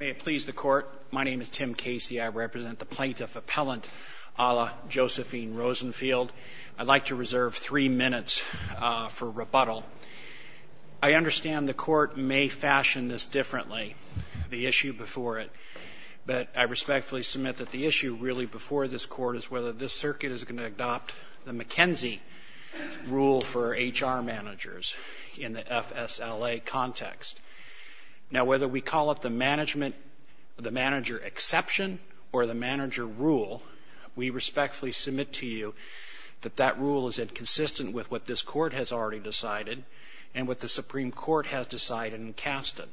May it please the Court, my name is Tim Casey, I represent the Plaintiff Appellant a la Josephine Rosenfield. I'd like to reserve three minutes for rebuttal. I understand the Court may fashion this differently, the issue before it, but I respectfully submit that the issue really before this Court is whether this Circuit is going to adopt the McKenzie rule for HR managers in the FSLA context. Now whether we call it the management, the manager exception, or the manager rule, we respectfully submit to you that that rule is inconsistent with what this Court has already decided, and what the Supreme Court has decided and casted.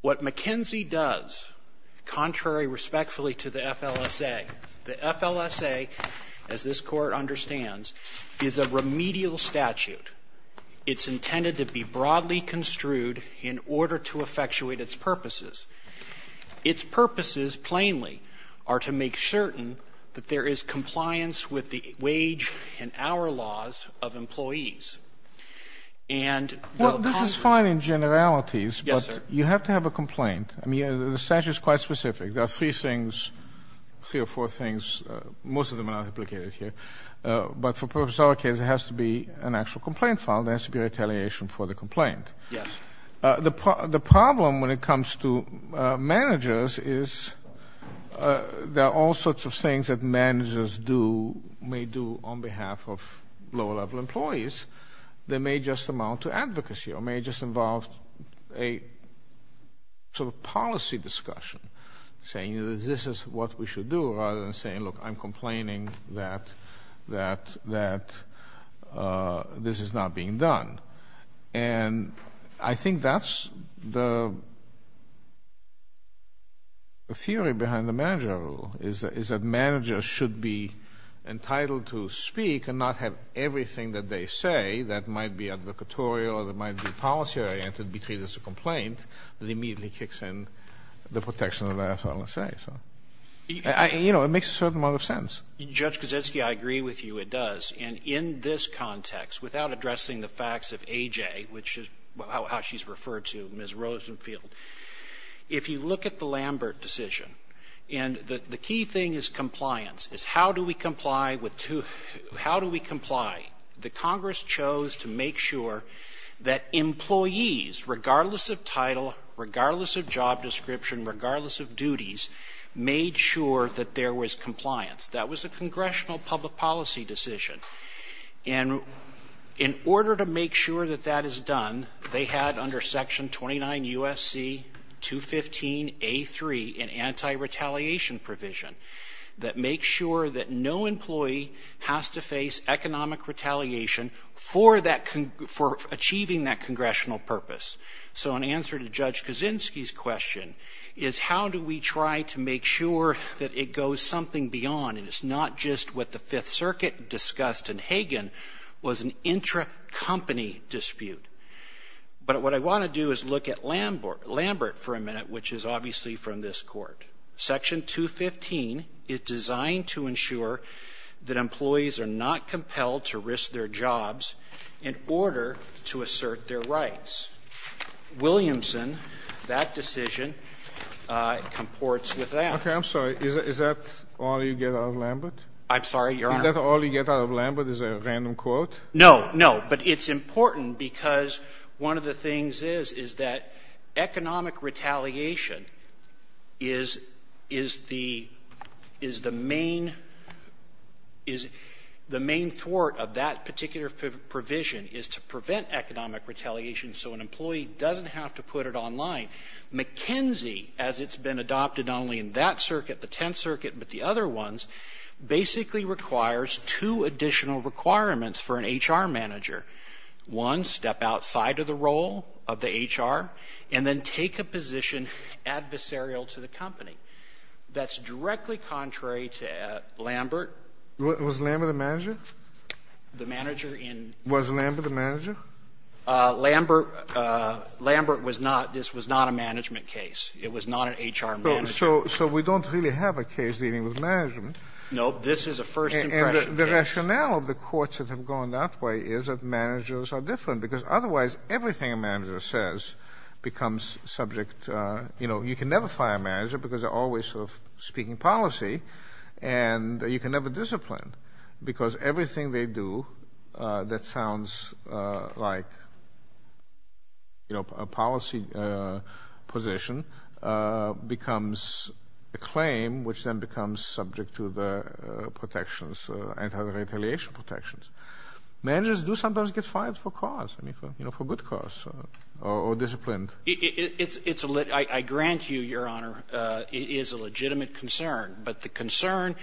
What McKenzie does, contrary respectfully to the FLSA, the FLSA, as this Court understands, is a remedial statute. It's intended to be broadly construed in order to effectuate its purposes. Its purposes, plainly, are to make certain that there is compliance with the wage and hour laws of employees. And the Congress ---- Well, this is fine in generalities, but you have to have a complaint. I mean, the statute is quite specific. There are three things, three or four things. Most of them are not implicated here. But for purpose of our case, it has to be an actual complaint filed. There has to be retaliation for the complaint. Yes. The problem when it comes to managers is there are all sorts of things that managers do, may do on behalf of lower-level employees. They may just amount to advocacy or may just involve a sort of policy discussion, saying, you know, this is what we should do, rather than saying, look, I'm complaining that this is not being done. And I think that's the theory behind the manager rule, is that managers should be entitled to speak and not have everything that they say that might be advocatorial or that might be policy-oriented be treated as a complaint. It immediately kicks in the protection of that, so to say. So, you know, it makes a certain amount of sense. Judge Kozetsky, I agree with you. It does. And in this context, without addressing the facts of AJ, which is how she's referred to, Ms. Rosenfield, if you look at the Lambert decision, and the key thing is compliance, is how do we comply with two ---- regardless of job description, regardless of duties, made sure that there was compliance. That was a congressional public policy decision. And in order to make sure that that is done, they had under Section 29 U.S.C. 215A3 an anti-retaliation provision that makes sure that no employee has to face economic retaliation for achieving that congressional purpose. So an answer to Judge Kozetsky's question is how do we try to make sure that it goes something beyond and it's not just what the Fifth Circuit discussed in Hagan was an intra-company dispute. But what I want to do is look at Lambert for a minute, which is obviously from this Court. Section 215 is designed to ensure that employees are not compelled to risk their jobs in order to assert their rights. Williamson, that decision, comports with that. Okay. I'm sorry. Is that all you get out of Lambert? I'm sorry, Your Honor. Is that all you get out of Lambert, is a random quote? No, no. But it's important because one of the things is, is that economic retaliation is, is the, is the main, is the main thwart of that particular provision is to prevent economic retaliation so an employee doesn't have to put it online. McKenzie, as it's been adopted not only in that circuit, the Tenth Circuit, but the other ones, basically requires two additional requirements for an H.R. manager. One, step outside of the role of the H.R. and then take a position adversarial to the company. That's directly contrary to Lambert. Was Lambert the manager? The manager in ---- Was Lambert the manager? Lambert, Lambert was not, this was not a management case. It was not an H.R. manager. So, so we don't really have a case dealing with management. No, this is a first impression case. And the rationale of the courts that have gone that way is that managers are different, because otherwise everything a manager says becomes subject, you know, you can never fire a manager because they're always sort of speaking policy, and you can never discipline because everything they do that sounds like, you know, a policy position becomes a claim, which then becomes subject to the protections, anti-retaliation protections. Managers do sometimes get fired for cause, you know, for good cause, or disciplined. It's a lit ---- I grant you, Your Honor, it is a legitimate concern. But the concern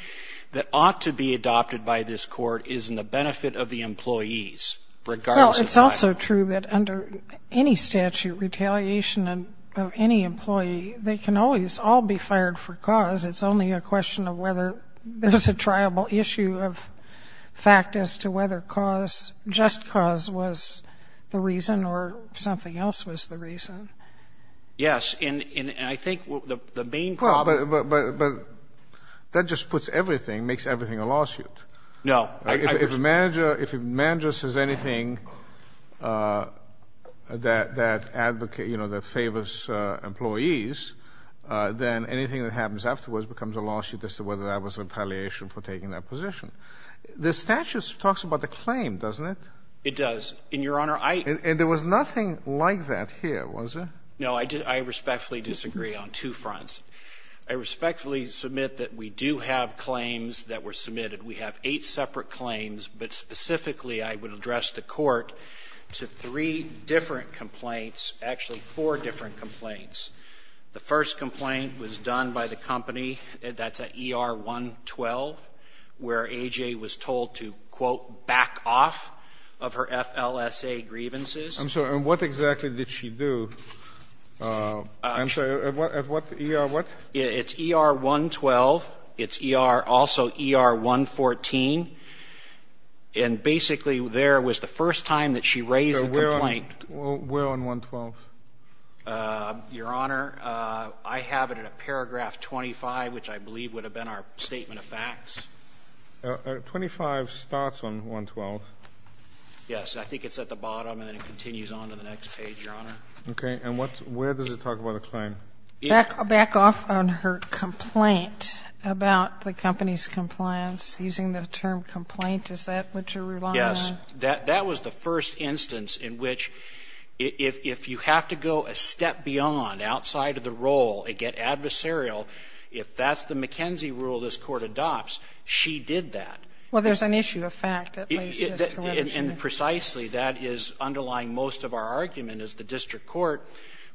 that ought to be adopted by this Court is in the benefit of the employees. Well, it's also true that under any statute, retaliation of any employee, they can always all be fired for cause. It's only a question of whether there's a triable issue of fact as to whether cause, just cause was the reason or something else was the reason. Yes, and I think the main problem ---- Well, but that just puts everything, makes everything a lawsuit. No. If a manager says anything that advocates, you know, that favors employees, then anything that happens afterwards becomes a lawsuit as to whether that was retaliation for taking that position. The statute talks about the claim, doesn't it? It does. And, Your Honor, I ---- And there was nothing like that here, was there? No, I respectfully disagree on two fronts. I respectfully submit that we do have claims that were submitted. We have eight separate claims, but specifically I would address the Court to three different complaints, actually four different complaints. The first complaint was done by the company that's at ER 112, where A.J. was told to, quote, back off of her FLSA grievances. I'm sorry. And what exactly did she do? I'm sorry. At what ER, what? It's ER 112. It's ER also ER 114. And basically there was the first time that she raised the complaint. Where on 112? Your Honor, I have it in a paragraph 25, which I believe would have been our statement of facts. 25 starts on 112. Yes. I think it's at the bottom and then it continues on to the next page, Your Honor. Okay. And what's ---- where does it talk about a claim? Back off on her complaint about the company's compliance, using the term complaint. Is that what you're relying on? Yes. That was the first instance in which if you have to go a step beyond, outside of the role, and get adversarial, if that's the McKenzie rule this Court adopts, she did that. Well, there's an issue of fact that leads to this. And precisely that is underlying most of our argument is the district court,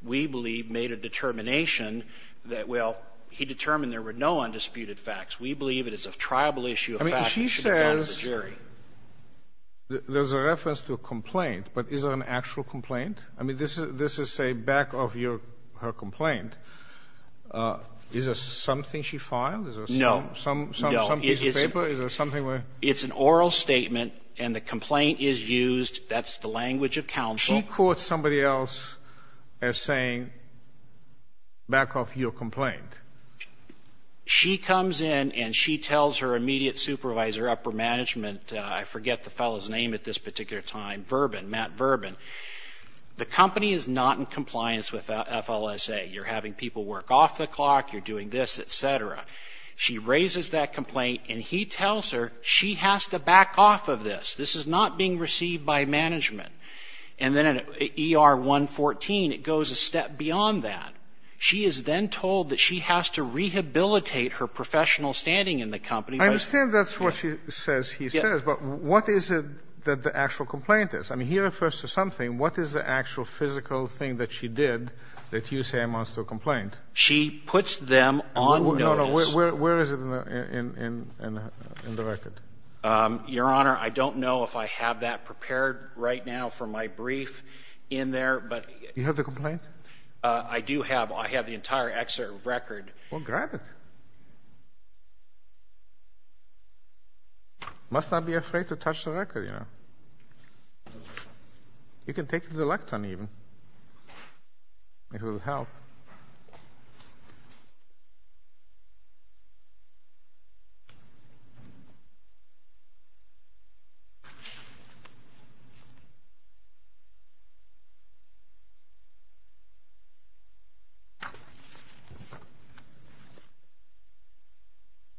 we believe, made a determination that, well, he determined there were no undisputed facts. We believe it is a tribal issue of fact that should be brought to the jury. I mean, she says there's a reference to a complaint, but is it an actual complaint? I mean, this is, say, back of her complaint. Is there something she filed? No. Some piece of paper? Is there something where ---- It's an oral statement and the complaint is used. That's the language of counsel. She quotes somebody else as saying, back off your complaint. She comes in and she tells her immediate supervisor, upper management, I forget the fellow's name at this particular time, Verbin, Matt Verbin, the company is not in compliance with FLSA. You're having people work off the clock, you're doing this, et cetera. She raises that complaint and he tells her she has to back off of this. This is not being received by management. And then in ER 114, it goes a step beyond that. She is then told that she has to rehabilitate her professional standing in the company. I understand that's what she says he says, but what is it that the actual complaint is? I mean, he refers to something. What is the actual physical thing that she did that you say amounts to a complaint? She puts them on notice. No, no. Where is it in the record? Your Honor, I don't know if I have that prepared right now for my brief in there. You have the complaint? I do have. I have the entire excerpt of the record. Well, grab it. You must not be afraid to touch the record, you know. You can take the lectern, even. It will help.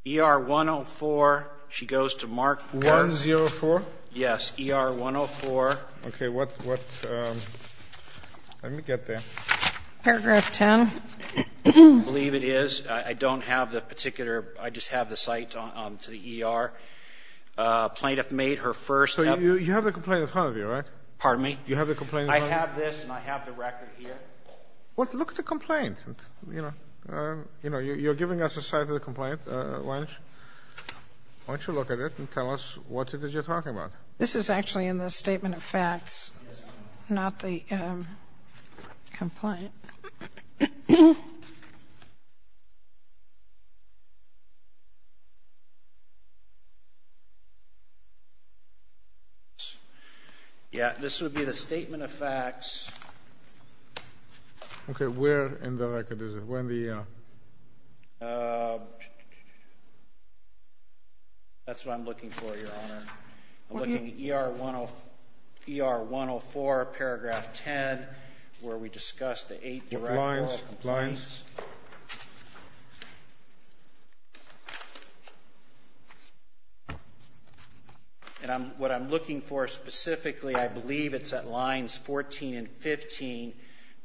ER 104, she goes to Mark. 104? Yes. ER 104. Okay. What? Let me get there. Paragraph 10. I believe it is. I don't have the particular. I just have the site to the ER. Plaintiff made her first. So you have the complaint in front of you, right? Pardon me? You have the complaint in front of you? I have this, and I have the record here. Well, look at the complaint. You know, you're giving us a site of the complaint, Lynch. Why don't you look at it and tell us what it is you're talking about? This is actually in the statement of facts, not the complaint. Yeah, this would be the statement of facts. Okay, where in the record is it? Where in the ER? That's what I'm looking for, Your Honor. I'm looking at ER 104, paragraph 10, where we discuss the eight direct oral complaints. Lines, lines. And what I'm looking for specifically, I believe it's at lines 14 and 15.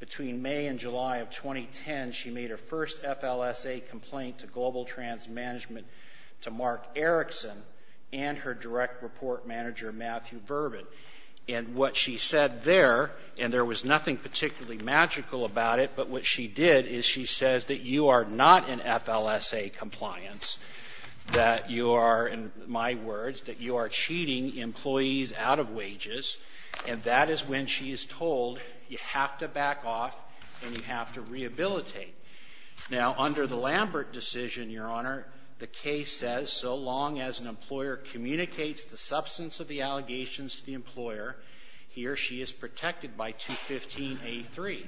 Between May and July of 2010, she made her first FLSA complaint to Global Trans Management to Mark Erickson and her direct report manager, Matthew Verbin. And what she said there, and there was nothing particularly magical about it, but what she did is she says that you are not in FLSA compliance, that you are, in my words, that you are cheating employees out of wages, and that is when she is told you have to back off and you have to rehabilitate. Now, under the Lambert decision, Your Honor, the case says so long as an employer communicates the substance of the allegations to the employer, he or she is protected by 215A3.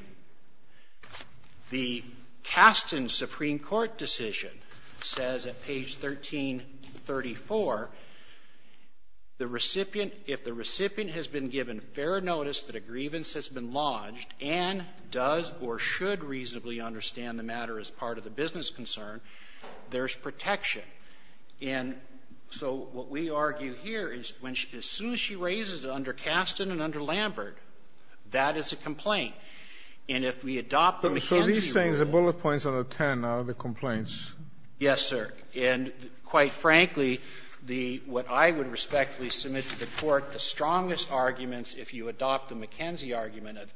The Kasten Supreme Court decision says at page 1334, if the recipient has been given fair notice that a grievance has been lodged and does or should reasonably understand the matter as part of the business concern, there's protection. And so what we argue here is as soon as she raises it under Kasten and under Lambert, that is a complaint. And if we adopt the McKenzie rule — So these things, the bullet points under 10 are the complaints? Yes, sir. And quite frankly, what I would respectfully submit to the Court, the strongest arguments, if you adopt the McKenzie argument, of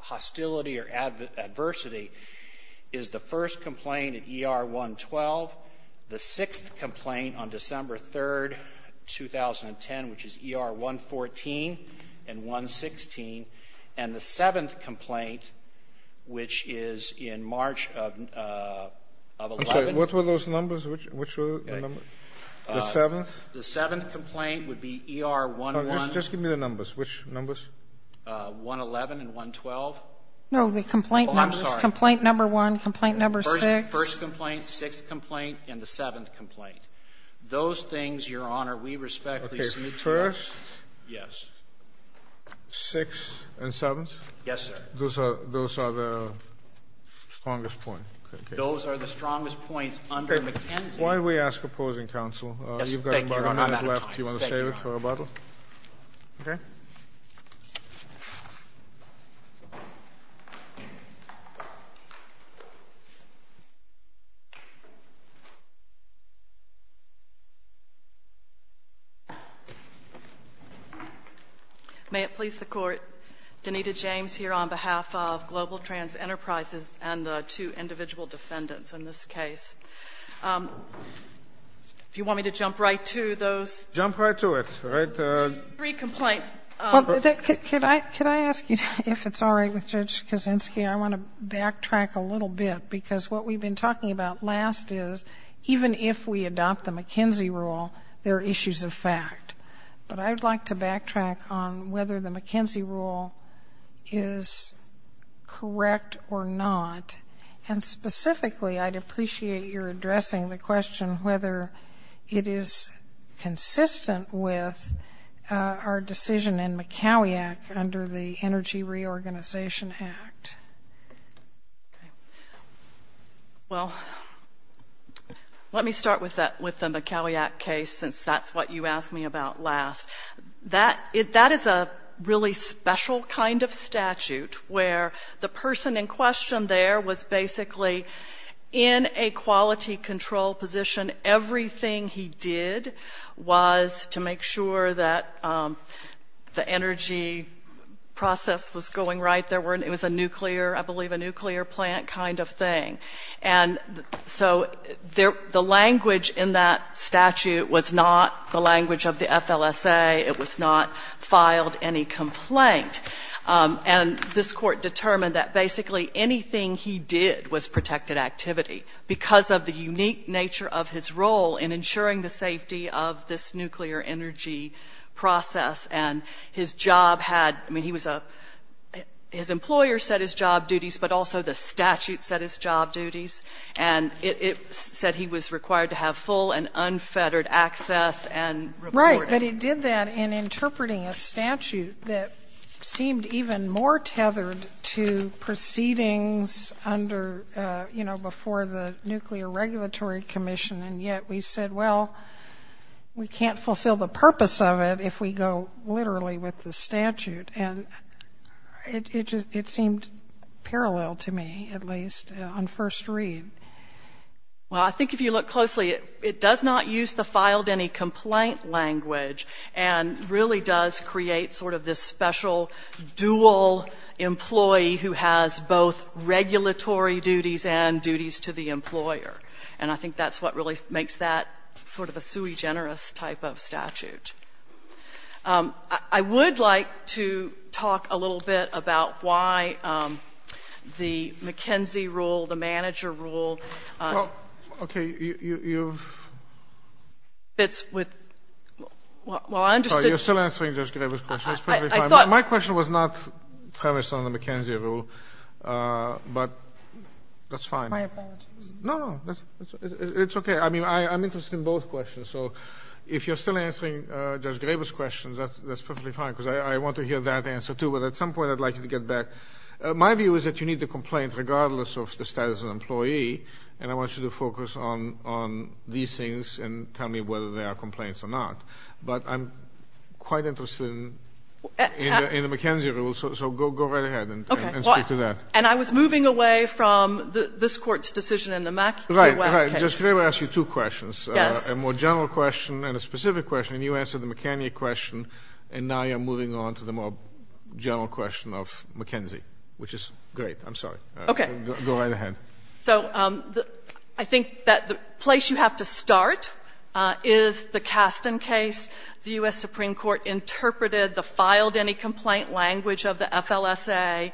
hostility or adversity is the first complaint at ER 112, the sixth complaint on December 3, 2010, which is ER 114 and 116, and the seventh complaint, which is in March of 11 — What were those numbers? Which were the numbers? The seventh? The seventh complaint would be ER 11 — Just give me the numbers. Which numbers? 111 and 112. No, the complaint numbers. Oh, I'm sorry. Complaint number one, complaint number six. First complaint, sixth complaint, and the seventh complaint. Those things, Your Honor, we respectfully submit to you. Okay. First — Yes. Sixth and seventh? Yes, sir. Those are the strongest points? Those are the strongest points under McKenzie. While we ask opposing counsel — Yes, thank you, Your Honor. You've got about a minute left. Do you want to save it for rebuttal? Thank you, Your Honor. Okay. May it please the Court, Danita James here on behalf of Global Trans Enterprises and the two individual defendants in this case. If you want me to jump right to those — Jump right to it. Three complaints. Could I ask you, if it's all right with Judge Kaczynski, I want to backtrack a little bit, because what we've been talking about last is even if we adopt the McKenzie rule, there are issues of fact. But I'd like to backtrack on whether the McKenzie rule is correct or not. And specifically, I'd appreciate your addressing the question whether it is consistent with our decision in McKowiak under the Energy Reorganization Act. Well, let me start with the McKowiak case, since that's what you asked me about last. That is a really special kind of statute, where the person in question there was basically in a quality control position. Everything he did was to make sure that the energy process was going right. There were — it was a nuclear — I believe a nuclear plant kind of thing. And so the language in that statute was not the language of the FLSA. It was not filed any complaint. And this Court determined that basically anything he did was protected activity because of the unique nature of his role in ensuring the safety of this nuclear energy process. And his job had — I mean, he was a — his employer set his job duties, but also the statute set his job duties. And it said he was required to have full and unfettered access and reporting. But he did that in interpreting a statute that seemed even more tethered to proceedings under — you know, before the Nuclear Regulatory Commission. And yet we said, well, we can't fulfill the purpose of it if we go literally with the statute. And it just — it seemed parallel to me, at least, on first read. Well, I think if you look closely, it does not use the filed any complaint language and really does create sort of this special dual employee who has both regulatory duties and duties to the employer. And I think that's what really makes that sort of a sui generis type of statute. I would like to talk a little bit about why the McKenzie rule, the manager rule — Well, okay, you've —— fits with — well, I understood — Sorry, you're still answering Judge Grebe's question. It's perfectly fine. I thought — My question was not premised on the McKenzie rule, but that's fine. My apologies. No, no. It's okay. I mean, I'm interested in both questions. So if you're still answering Judge Grebe's questions, that's perfectly fine, because I want to hear that answer, too. But at some point, I'd like you to get back. My view is that you need the complaint regardless of the status of an employee, and I want you to focus on these things and tell me whether they are complaints or not. But I'm quite interested in the McKenzie rule, so go right ahead and speak to that. Okay. Well, and I was moving away from this Court's decision in the Mackieu case. Right, right. Just let me ask you two questions. Yes. A more general question and a specific question, and you answered the McKenzie question, and now you're moving on to the more general question of McKenzie, which is great. I'm sorry. Okay. Go right ahead. So I think that the place you have to start is the Kasten case. The U.S. Supreme Court interpreted the filed any complaint language of the FLSA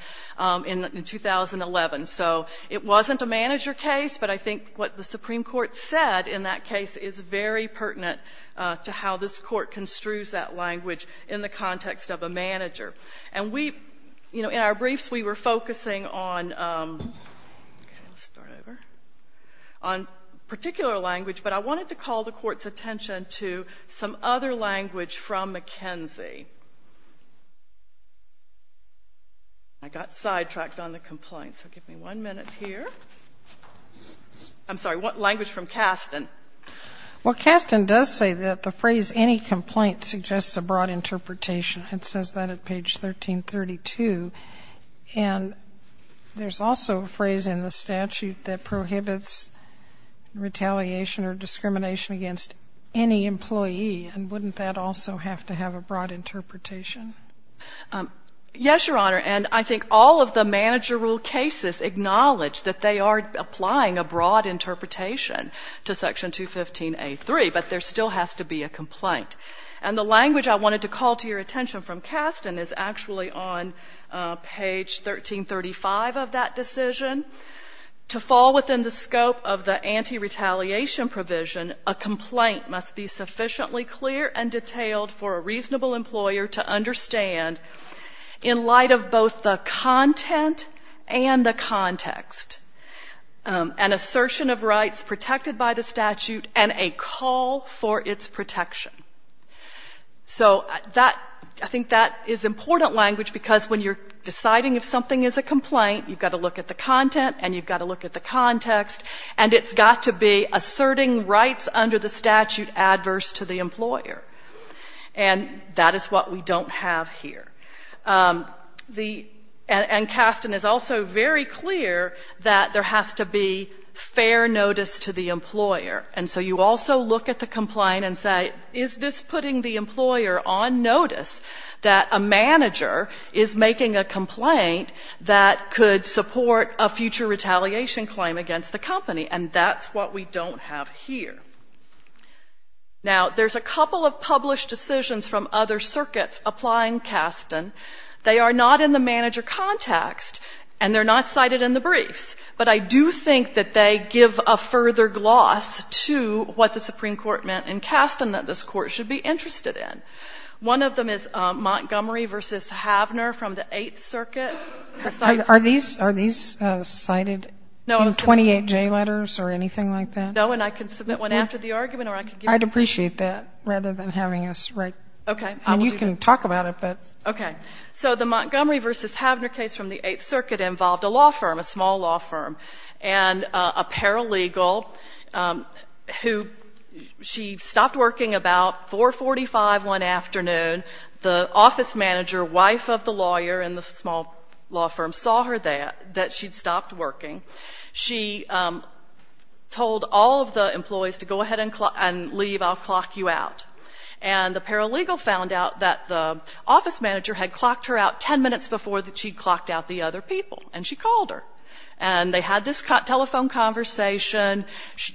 in 2011. So it wasn't a manager case, but I think what the Supreme Court said in that case is very pertinent to how this Court construes that language in the context of a manager. And we, you know, in our briefs, we were focusing on particular language, but I wanted to call the Court's attention to some other language from McKenzie. I got sidetracked on the complaint, so give me one minute here. I'm sorry. What language from Kasten? Well, Kasten does say that the phrase any complaint suggests a broad interpretation. It says that at page 1332. And there's also a phrase in the statute that prohibits retaliation or discrimination against any employee. And wouldn't that also have to have a broad interpretation? Yes, Your Honor. And I think all of the manager rule cases acknowledge that they are applying a broad interpretation to Section 215A.3, but there still has to be a complaint. And the language I wanted to call to your attention from Kasten is actually on page 1335 of that decision. To fall within the scope of the anti-retaliation provision, a complaint must be sufficiently clear and detailed for a reasonable employer to understand, in light of both the content and the context, an assertion of rights protected by the statute and a call for its protection. So I think that is important language because when you're deciding if something is a complaint, you've got to look at the content and you've got to look at the context, and it's got to be asserting rights under the statute adverse to the employer. And that is what we don't have here. And Kasten is also very clear that there has to be fair notice to the employer. And so you also look at the complaint and say, is this putting the employer on notice that a manager is making a complaint that could support a future retaliation claim against the company? And that's what we don't have here. Now, there's a couple of published decisions from other circuits applying Kasten. They are not in the manager context and they're not cited in the briefs, but I do think that they give a further gloss to what the Supreme Court meant in Kasten that this Court should be interested in. One of them is Montgomery v. Havner from the Eighth Circuit. Are these cited in 28J letters or anything like that? No, and I can submit one after the argument or I can give it to you. I'd appreciate that rather than having us write. Okay. I mean, you can talk about it, but. Okay. So the Montgomery v. Havner case from the Eighth Circuit involved a law firm, a small law firm, and a paralegal who she stopped working about 4.45 one afternoon. The office manager, wife of the lawyer in the small law firm, saw her there, that she'd stopped working. She told all of the employees to go ahead and leave, I'll clock you out. And the paralegal found out that the office manager had clocked her out 10 minutes before she'd clocked out the other people, and she called her. And they had this telephone conversation.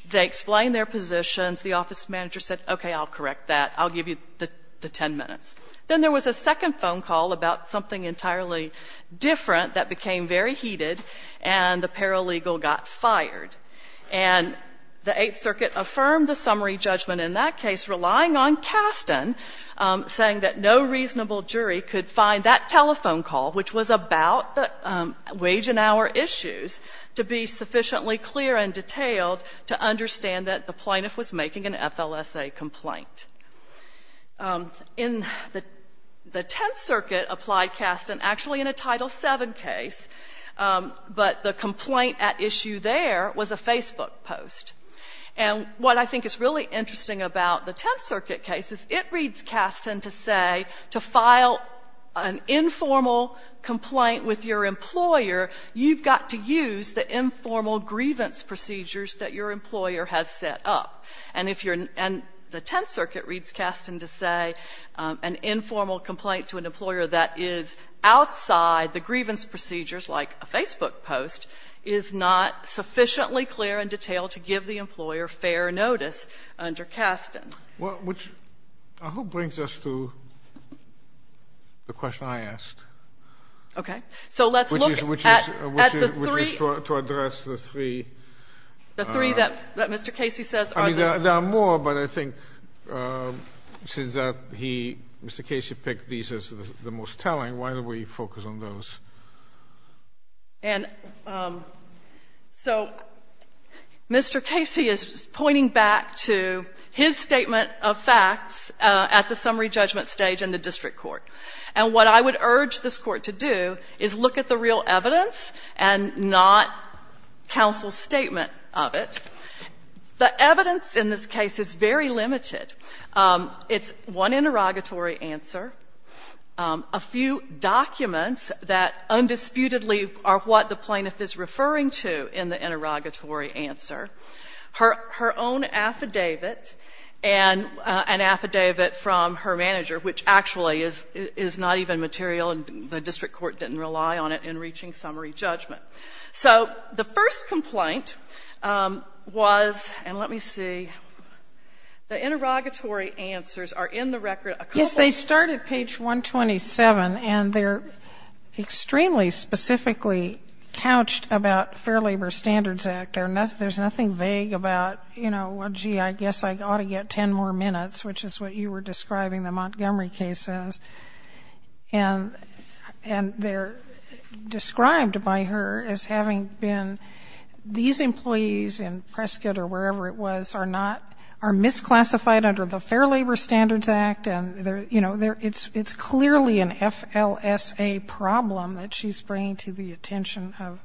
They explained their positions. The office manager said, okay, I'll correct that. I'll give you the 10 minutes. Then there was a second phone call about something entirely different that became very heated, and the paralegal got fired. And the Eighth Circuit affirmed the summary judgment in that case, relying on Kasten saying that no reasonable jury could find that telephone call, which was about the wage and hour issues, to be sufficiently clear and detailed to understand that the plaintiff was making an FLSA complaint. In the Tenth Circuit applied Kasten actually in a Title VII case, but the complaint at issue there was a Facebook post. And what I think is really interesting about the Tenth Circuit case is it reads Kasten to say to file an informal complaint with your employer, you've got to use the informal grievance procedures that your employer has set up. And if you're in the Tenth Circuit reads Kasten to say an informal complaint to an employer that is outside the grievance procedures, like a Facebook post, is not sufficiently clear and detailed to give the employer fair notice under Kasten. Well, which I hope brings us to the question I asked. Okay. So let's look at the three. Which is to address the three. The three that Mr. Casey says are the three. There are more, but I think since Mr. Casey picked these as the most telling, why don't we focus on those? And so Mr. Casey is pointing back to his statement of facts at the summary judgment stage in the district court. And what I would urge this Court to do is look at the real evidence and not counsel's statement of it. The evidence in this case is very limited. It's one interrogatory answer, a few documents that undisputedly are what the plaintiff is referring to in the interrogatory answer, her own affidavit, and an affidavit from her manager, which actually is not even material and the district court didn't rely on it in reaching summary judgment. So the first complaint was, and let me see, the interrogatory answers are in the record a couple of times. Yes. They start at page 127 and they're extremely specifically couched about Fair Labor Standards Act. There's nothing vague about, you know, well, gee, I guess I ought to get ten more minutes, which is what you were describing the Montgomery case as. And they're described by her as having been, these employees in Prescott or wherever it was are not, are misclassified under the Fair Labor Standards Act and, you know, it's clearly an FLSA problem that she's bringing to the attention of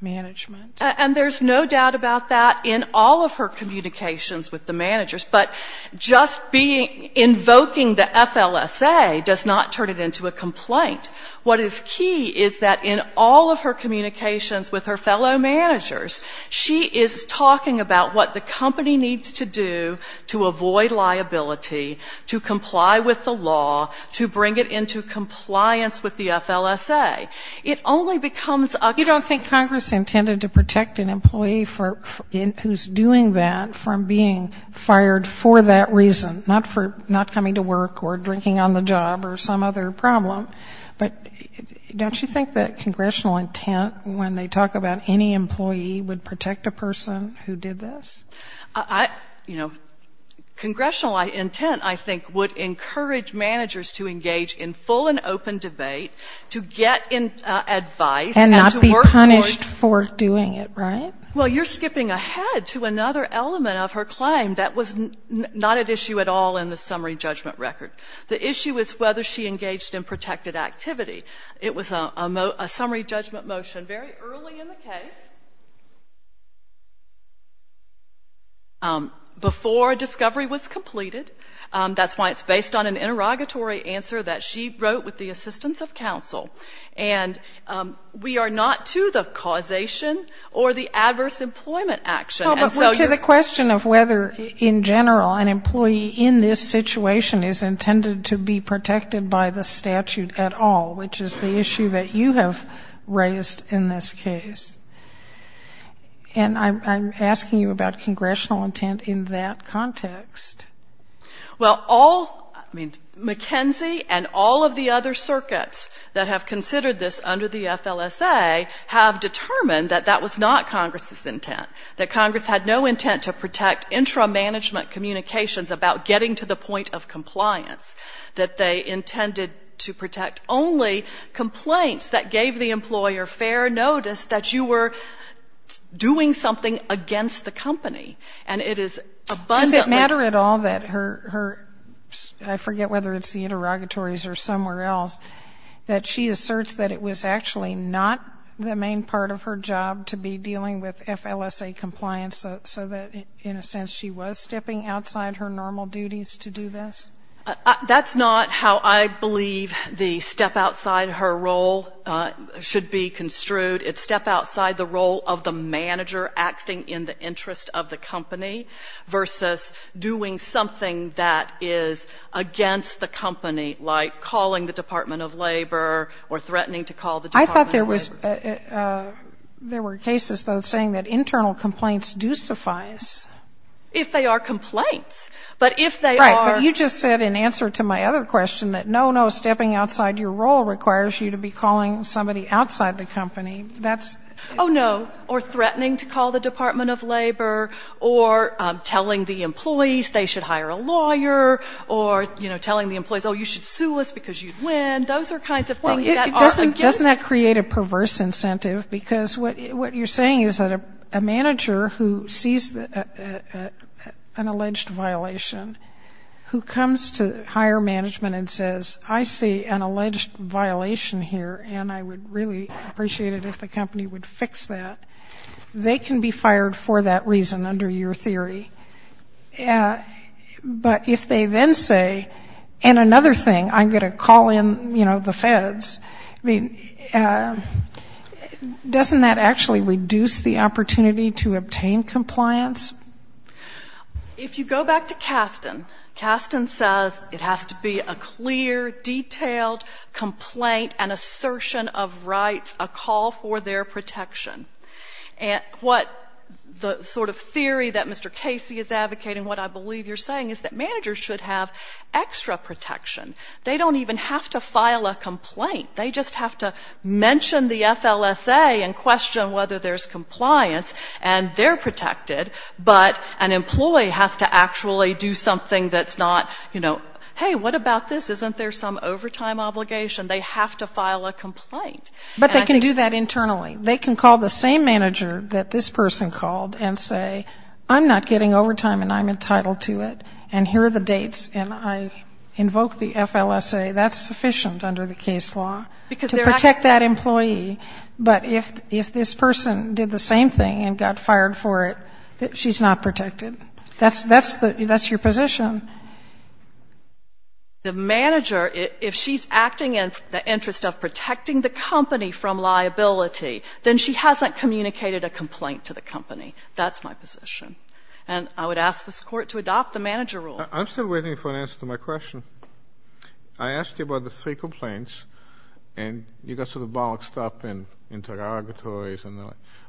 management. And there's no doubt about that in all of her communications with the managers, but just being, invoking the FLSA does not turn it into a complaint. What is key is that in all of her communications with her fellow managers, she is talking about what the company needs to do to avoid liability, to comply with the law, to bring it into compliance with the FLSA. It only becomes a, you don't think Congress intended to protect an employee for, who's doing that, from being fired for that reason, not for not coming to work or drinking on the job or some other problem, but don't you think that congressional intent when they talk about any employee would protect a person who did this? I, you know, congressional intent, I think, would encourage managers to engage in full and open debate, to get advice and to work towards. And not be punished for doing it, right? Well, you're skipping ahead to another element of her claim that was not at issue at all in the summary judgment record. The issue is whether she engaged in protected activity. It was a summary judgment motion very early in the case, before a discovery was completed. That's why it's based on an interrogatory answer that she wrote with the assistance of counsel. And we are not to the causation or the adverse employment action. And so you're to the question of whether in general an employee in this situation is intended to be protected by the statute at all, which is the issue that you have raised in this case. And I'm asking you about congressional intent in that context. Well, all, I mean, McKenzie and all of the other circuits that have considered this under the FLSA have determined that that was not Congress's intent, that Congress had no intent to protect intra-management communications about getting to the point of compliance, that they intended to protect only complaints that gave the employer fair notice that you were doing something against the company. And it is abundantly Does it matter at all that her, I forget whether it's the interrogatories or somewhere else, that she asserts that it was actually not the main part of her job to be dealing with FLSA compliance, so that in a sense she was stepping outside her normal duties to do this? That's not how I believe the step outside her role should be construed. It's step outside the role of the manager acting in the interest of the company versus doing something that is against the company, like calling the Department of Labor or threatening to call the Department of Labor. I thought there was, there were cases, though, saying that internal complaints do suffice. If they are complaints, but if they are Right, but you just said in answer to my other question that no, no, stepping outside your role requires you to be calling somebody outside the company, that's Oh, no, or threatening to call the Department of Labor or telling the employees they should hire a lawyer or, you know, telling the employees, oh, you should sue us because you'd win. Those are kinds of things that are against Doesn't that create a perverse incentive? Because what you're saying is that a manager who sees an alleged violation who comes to hire management and says, I see an alleged violation here and I would really appreciate it if the company would fix that, they can be fired for that reason under your theory. But if they then say, and another thing, I'm going to call in, you know, the feds, I mean, doesn't that actually reduce the opportunity to obtain compliance? If you go back to Kasten, Kasten says it has to be a clear, detailed complaint, an assertion of rights, a call for their protection. And what the sort of theory that Mr. Casey is advocating, what I believe you're saying is that managers should have extra protection. They don't even have to file a complaint. They just have to mention the violation, but an employee has to actually do something that's not, you know, hey, what about this? Isn't there some overtime obligation? They have to file a complaint. But they can do that internally. They can call the same manager that this person called and say, I'm not getting overtime and I'm entitled to it, and here are the dates, and I invoke the FLSA. That's sufficient under the case law to protect that employee. But if this person did the same thing and got fired for it, she's not protected. That's your position. The manager, if she's acting in the interest of protecting the company from liability, then she hasn't communicated a complaint to the company. That's my position. And I would ask this Court to adopt the manager rule. I'm still waiting for an answer to my question. I asked you about the three complaints and you got sort of boxed up in interrogatories.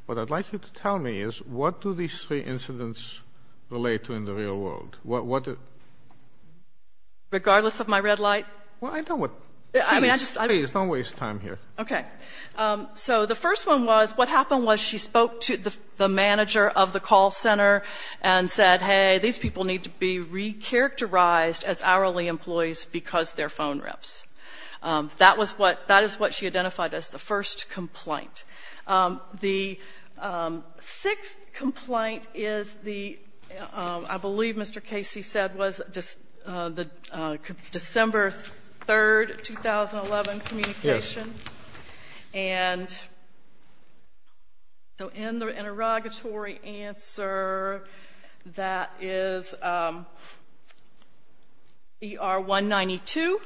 What I'd like you to tell me is what do these three incidents relate to in the real world? Regardless of my red light? Please, don't waste time here. Okay. So the first one was, what happened was she spoke to the manager of the call center and said, hey, these people need to be recharacterized as hourly employees because their phone reps. That is what she identified as the first complaint. The sixth complaint is the, I believe Mr. Casey said, was December 3rd, 2011, communication. And so in the interrogatory answer, that is ER 192.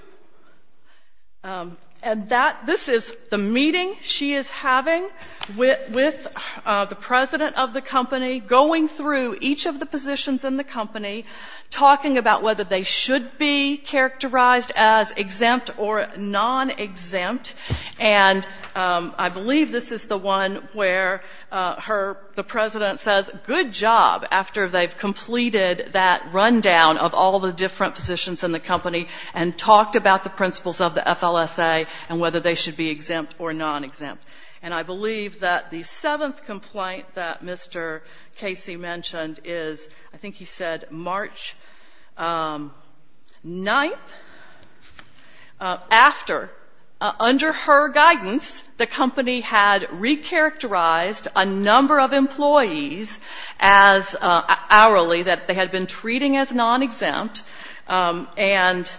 And that, this is the meeting she is having with the president of the company, going through each of the positions in the company, talking about whether they should be characterized as exempt or nonexempt. And I believe this is the one where her, the president says, good job, after they've completed that rundown of all the different positions in the company and talked about the principles of the FLSA and whether they should be exempt or nonexempt. And I believe that the seventh complaint that Mr. Casey mentioned is, I think he said March 9th, after, under her guidance, the company had recharacterized a number of employees as they had been treating as nonexempt, and,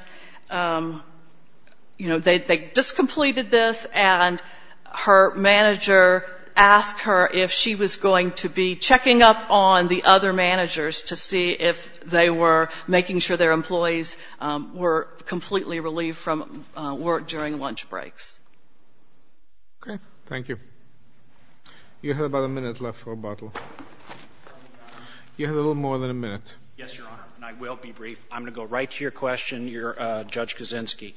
you know, they just completed this, and her manager asked her if she was going to be checking up on the other managers to see if they were making sure their employees were completely relieved from work during lunch breaks. Okay. Thank you. You have about a minute left for rebuttal. You have a little more than a minute. Yes, Your Honor, and I will be brief. I'm going to go right to your question, Judge Kaczynski.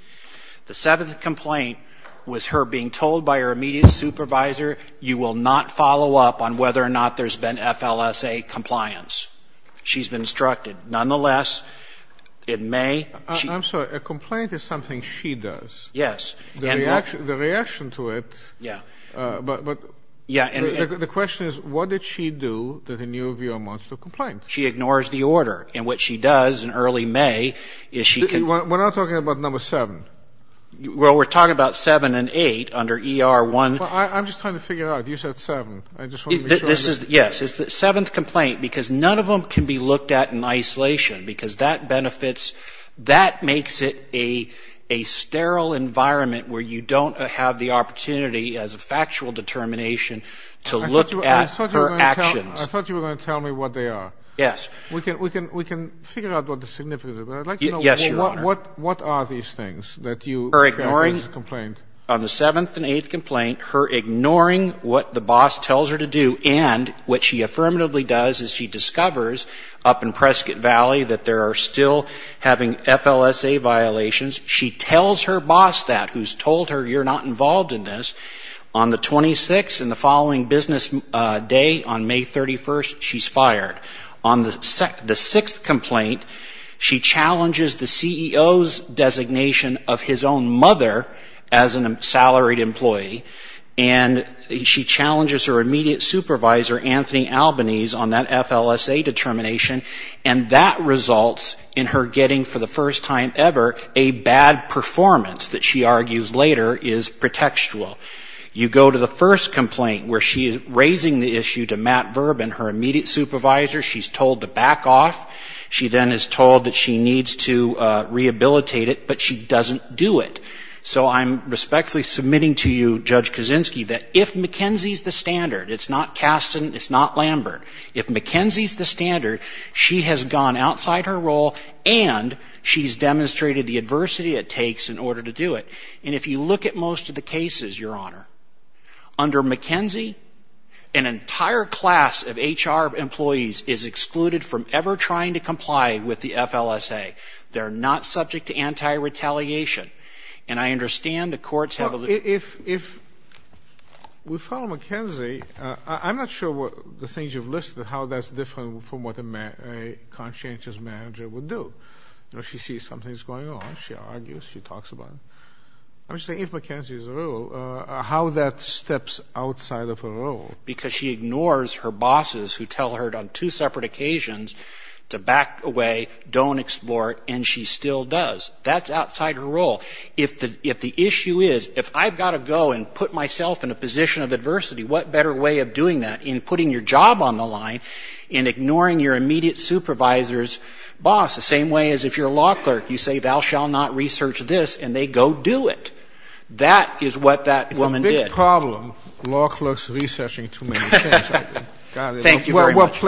The seventh complaint was her being told by her immediate supervisor, you will not follow up on whether or not there's been FLSA compliance. She's been instructed. Nonetheless, it may I'm sorry. A complaint is something she does. Yes. The reaction to it, but the question is, what did she do that in your view amounts to a complaint? She ignores the order, and what she does in early May is she can We're not talking about number seven. Well, we're talking about seven and eight under ER1 I'm just trying to figure out. You said seven. I just want to be sure. Yes, it's the seventh complaint, because none of them can be looked at in isolation, because that benefits That makes it a sterile environment where you don't have the opportunity as a factual determination to look at her actions. I thought you were going to tell me what they are. Yes. We can figure out what the significance is. Yes, Your Honor. What are these things that you On the seventh and eighth complaint, her ignoring what the boss tells her to do, and what she affirmatively does is she discovers up in Prescott Valley that there are still having FLSA violations. She tells her boss that, who's told her you're not involved in this. On the 26th and the following business day, on May 31st, she's fired. On the sixth complaint, she challenges the CEO's designation of his own mother as a salaried employee, and she challenges her immediate supervisor, Anthony Albanese, on that FLSA determination, and that results in her getting, for the first time ever, a bad performance that she argues later is pretextual. You go to the first complaint where she is raising the issue to Matt Verbin, her immediate supervisor. She's told to back off. She then is told that she needs to rehabilitate it, but she doesn't do it. So I'm respectfully submitting to you, Judge Kuczynski, that if McKenzie's the standard, it's not Caston, it's not Lambert. If McKenzie's the standard, she has gone outside her role, and she's demonstrated the adversity it takes in order to do it. And if you look at most of the cases, Your Honor, under McKenzie, an entire class of HR employees, HR employees, is excluded from ever trying to comply with the FLSA. They're not subject to anti-retaliation. And I understand the courts have a... If we follow McKenzie, I'm not sure what the things you've listed, how that's different from what a conscientious manager would do. You know, she sees something's going on, she argues, she talks about it. I'm just saying, if McKenzie's the rule, how that steps outside of her role. Because she ignores her bosses who tell her on two separate occasions to back away, don't explore it, and she still does. That's outside her role. If the issue is, if I've got to go and put myself in a position of adversity, what better way of doing that than putting your job on the line and ignoring your immediate supervisor's boss, the same way as if you're a law clerk. You say, thou shall not research this, and they go do it. That is what that woman did. It's a big problem, law clerks researching too many things. Thank you very much.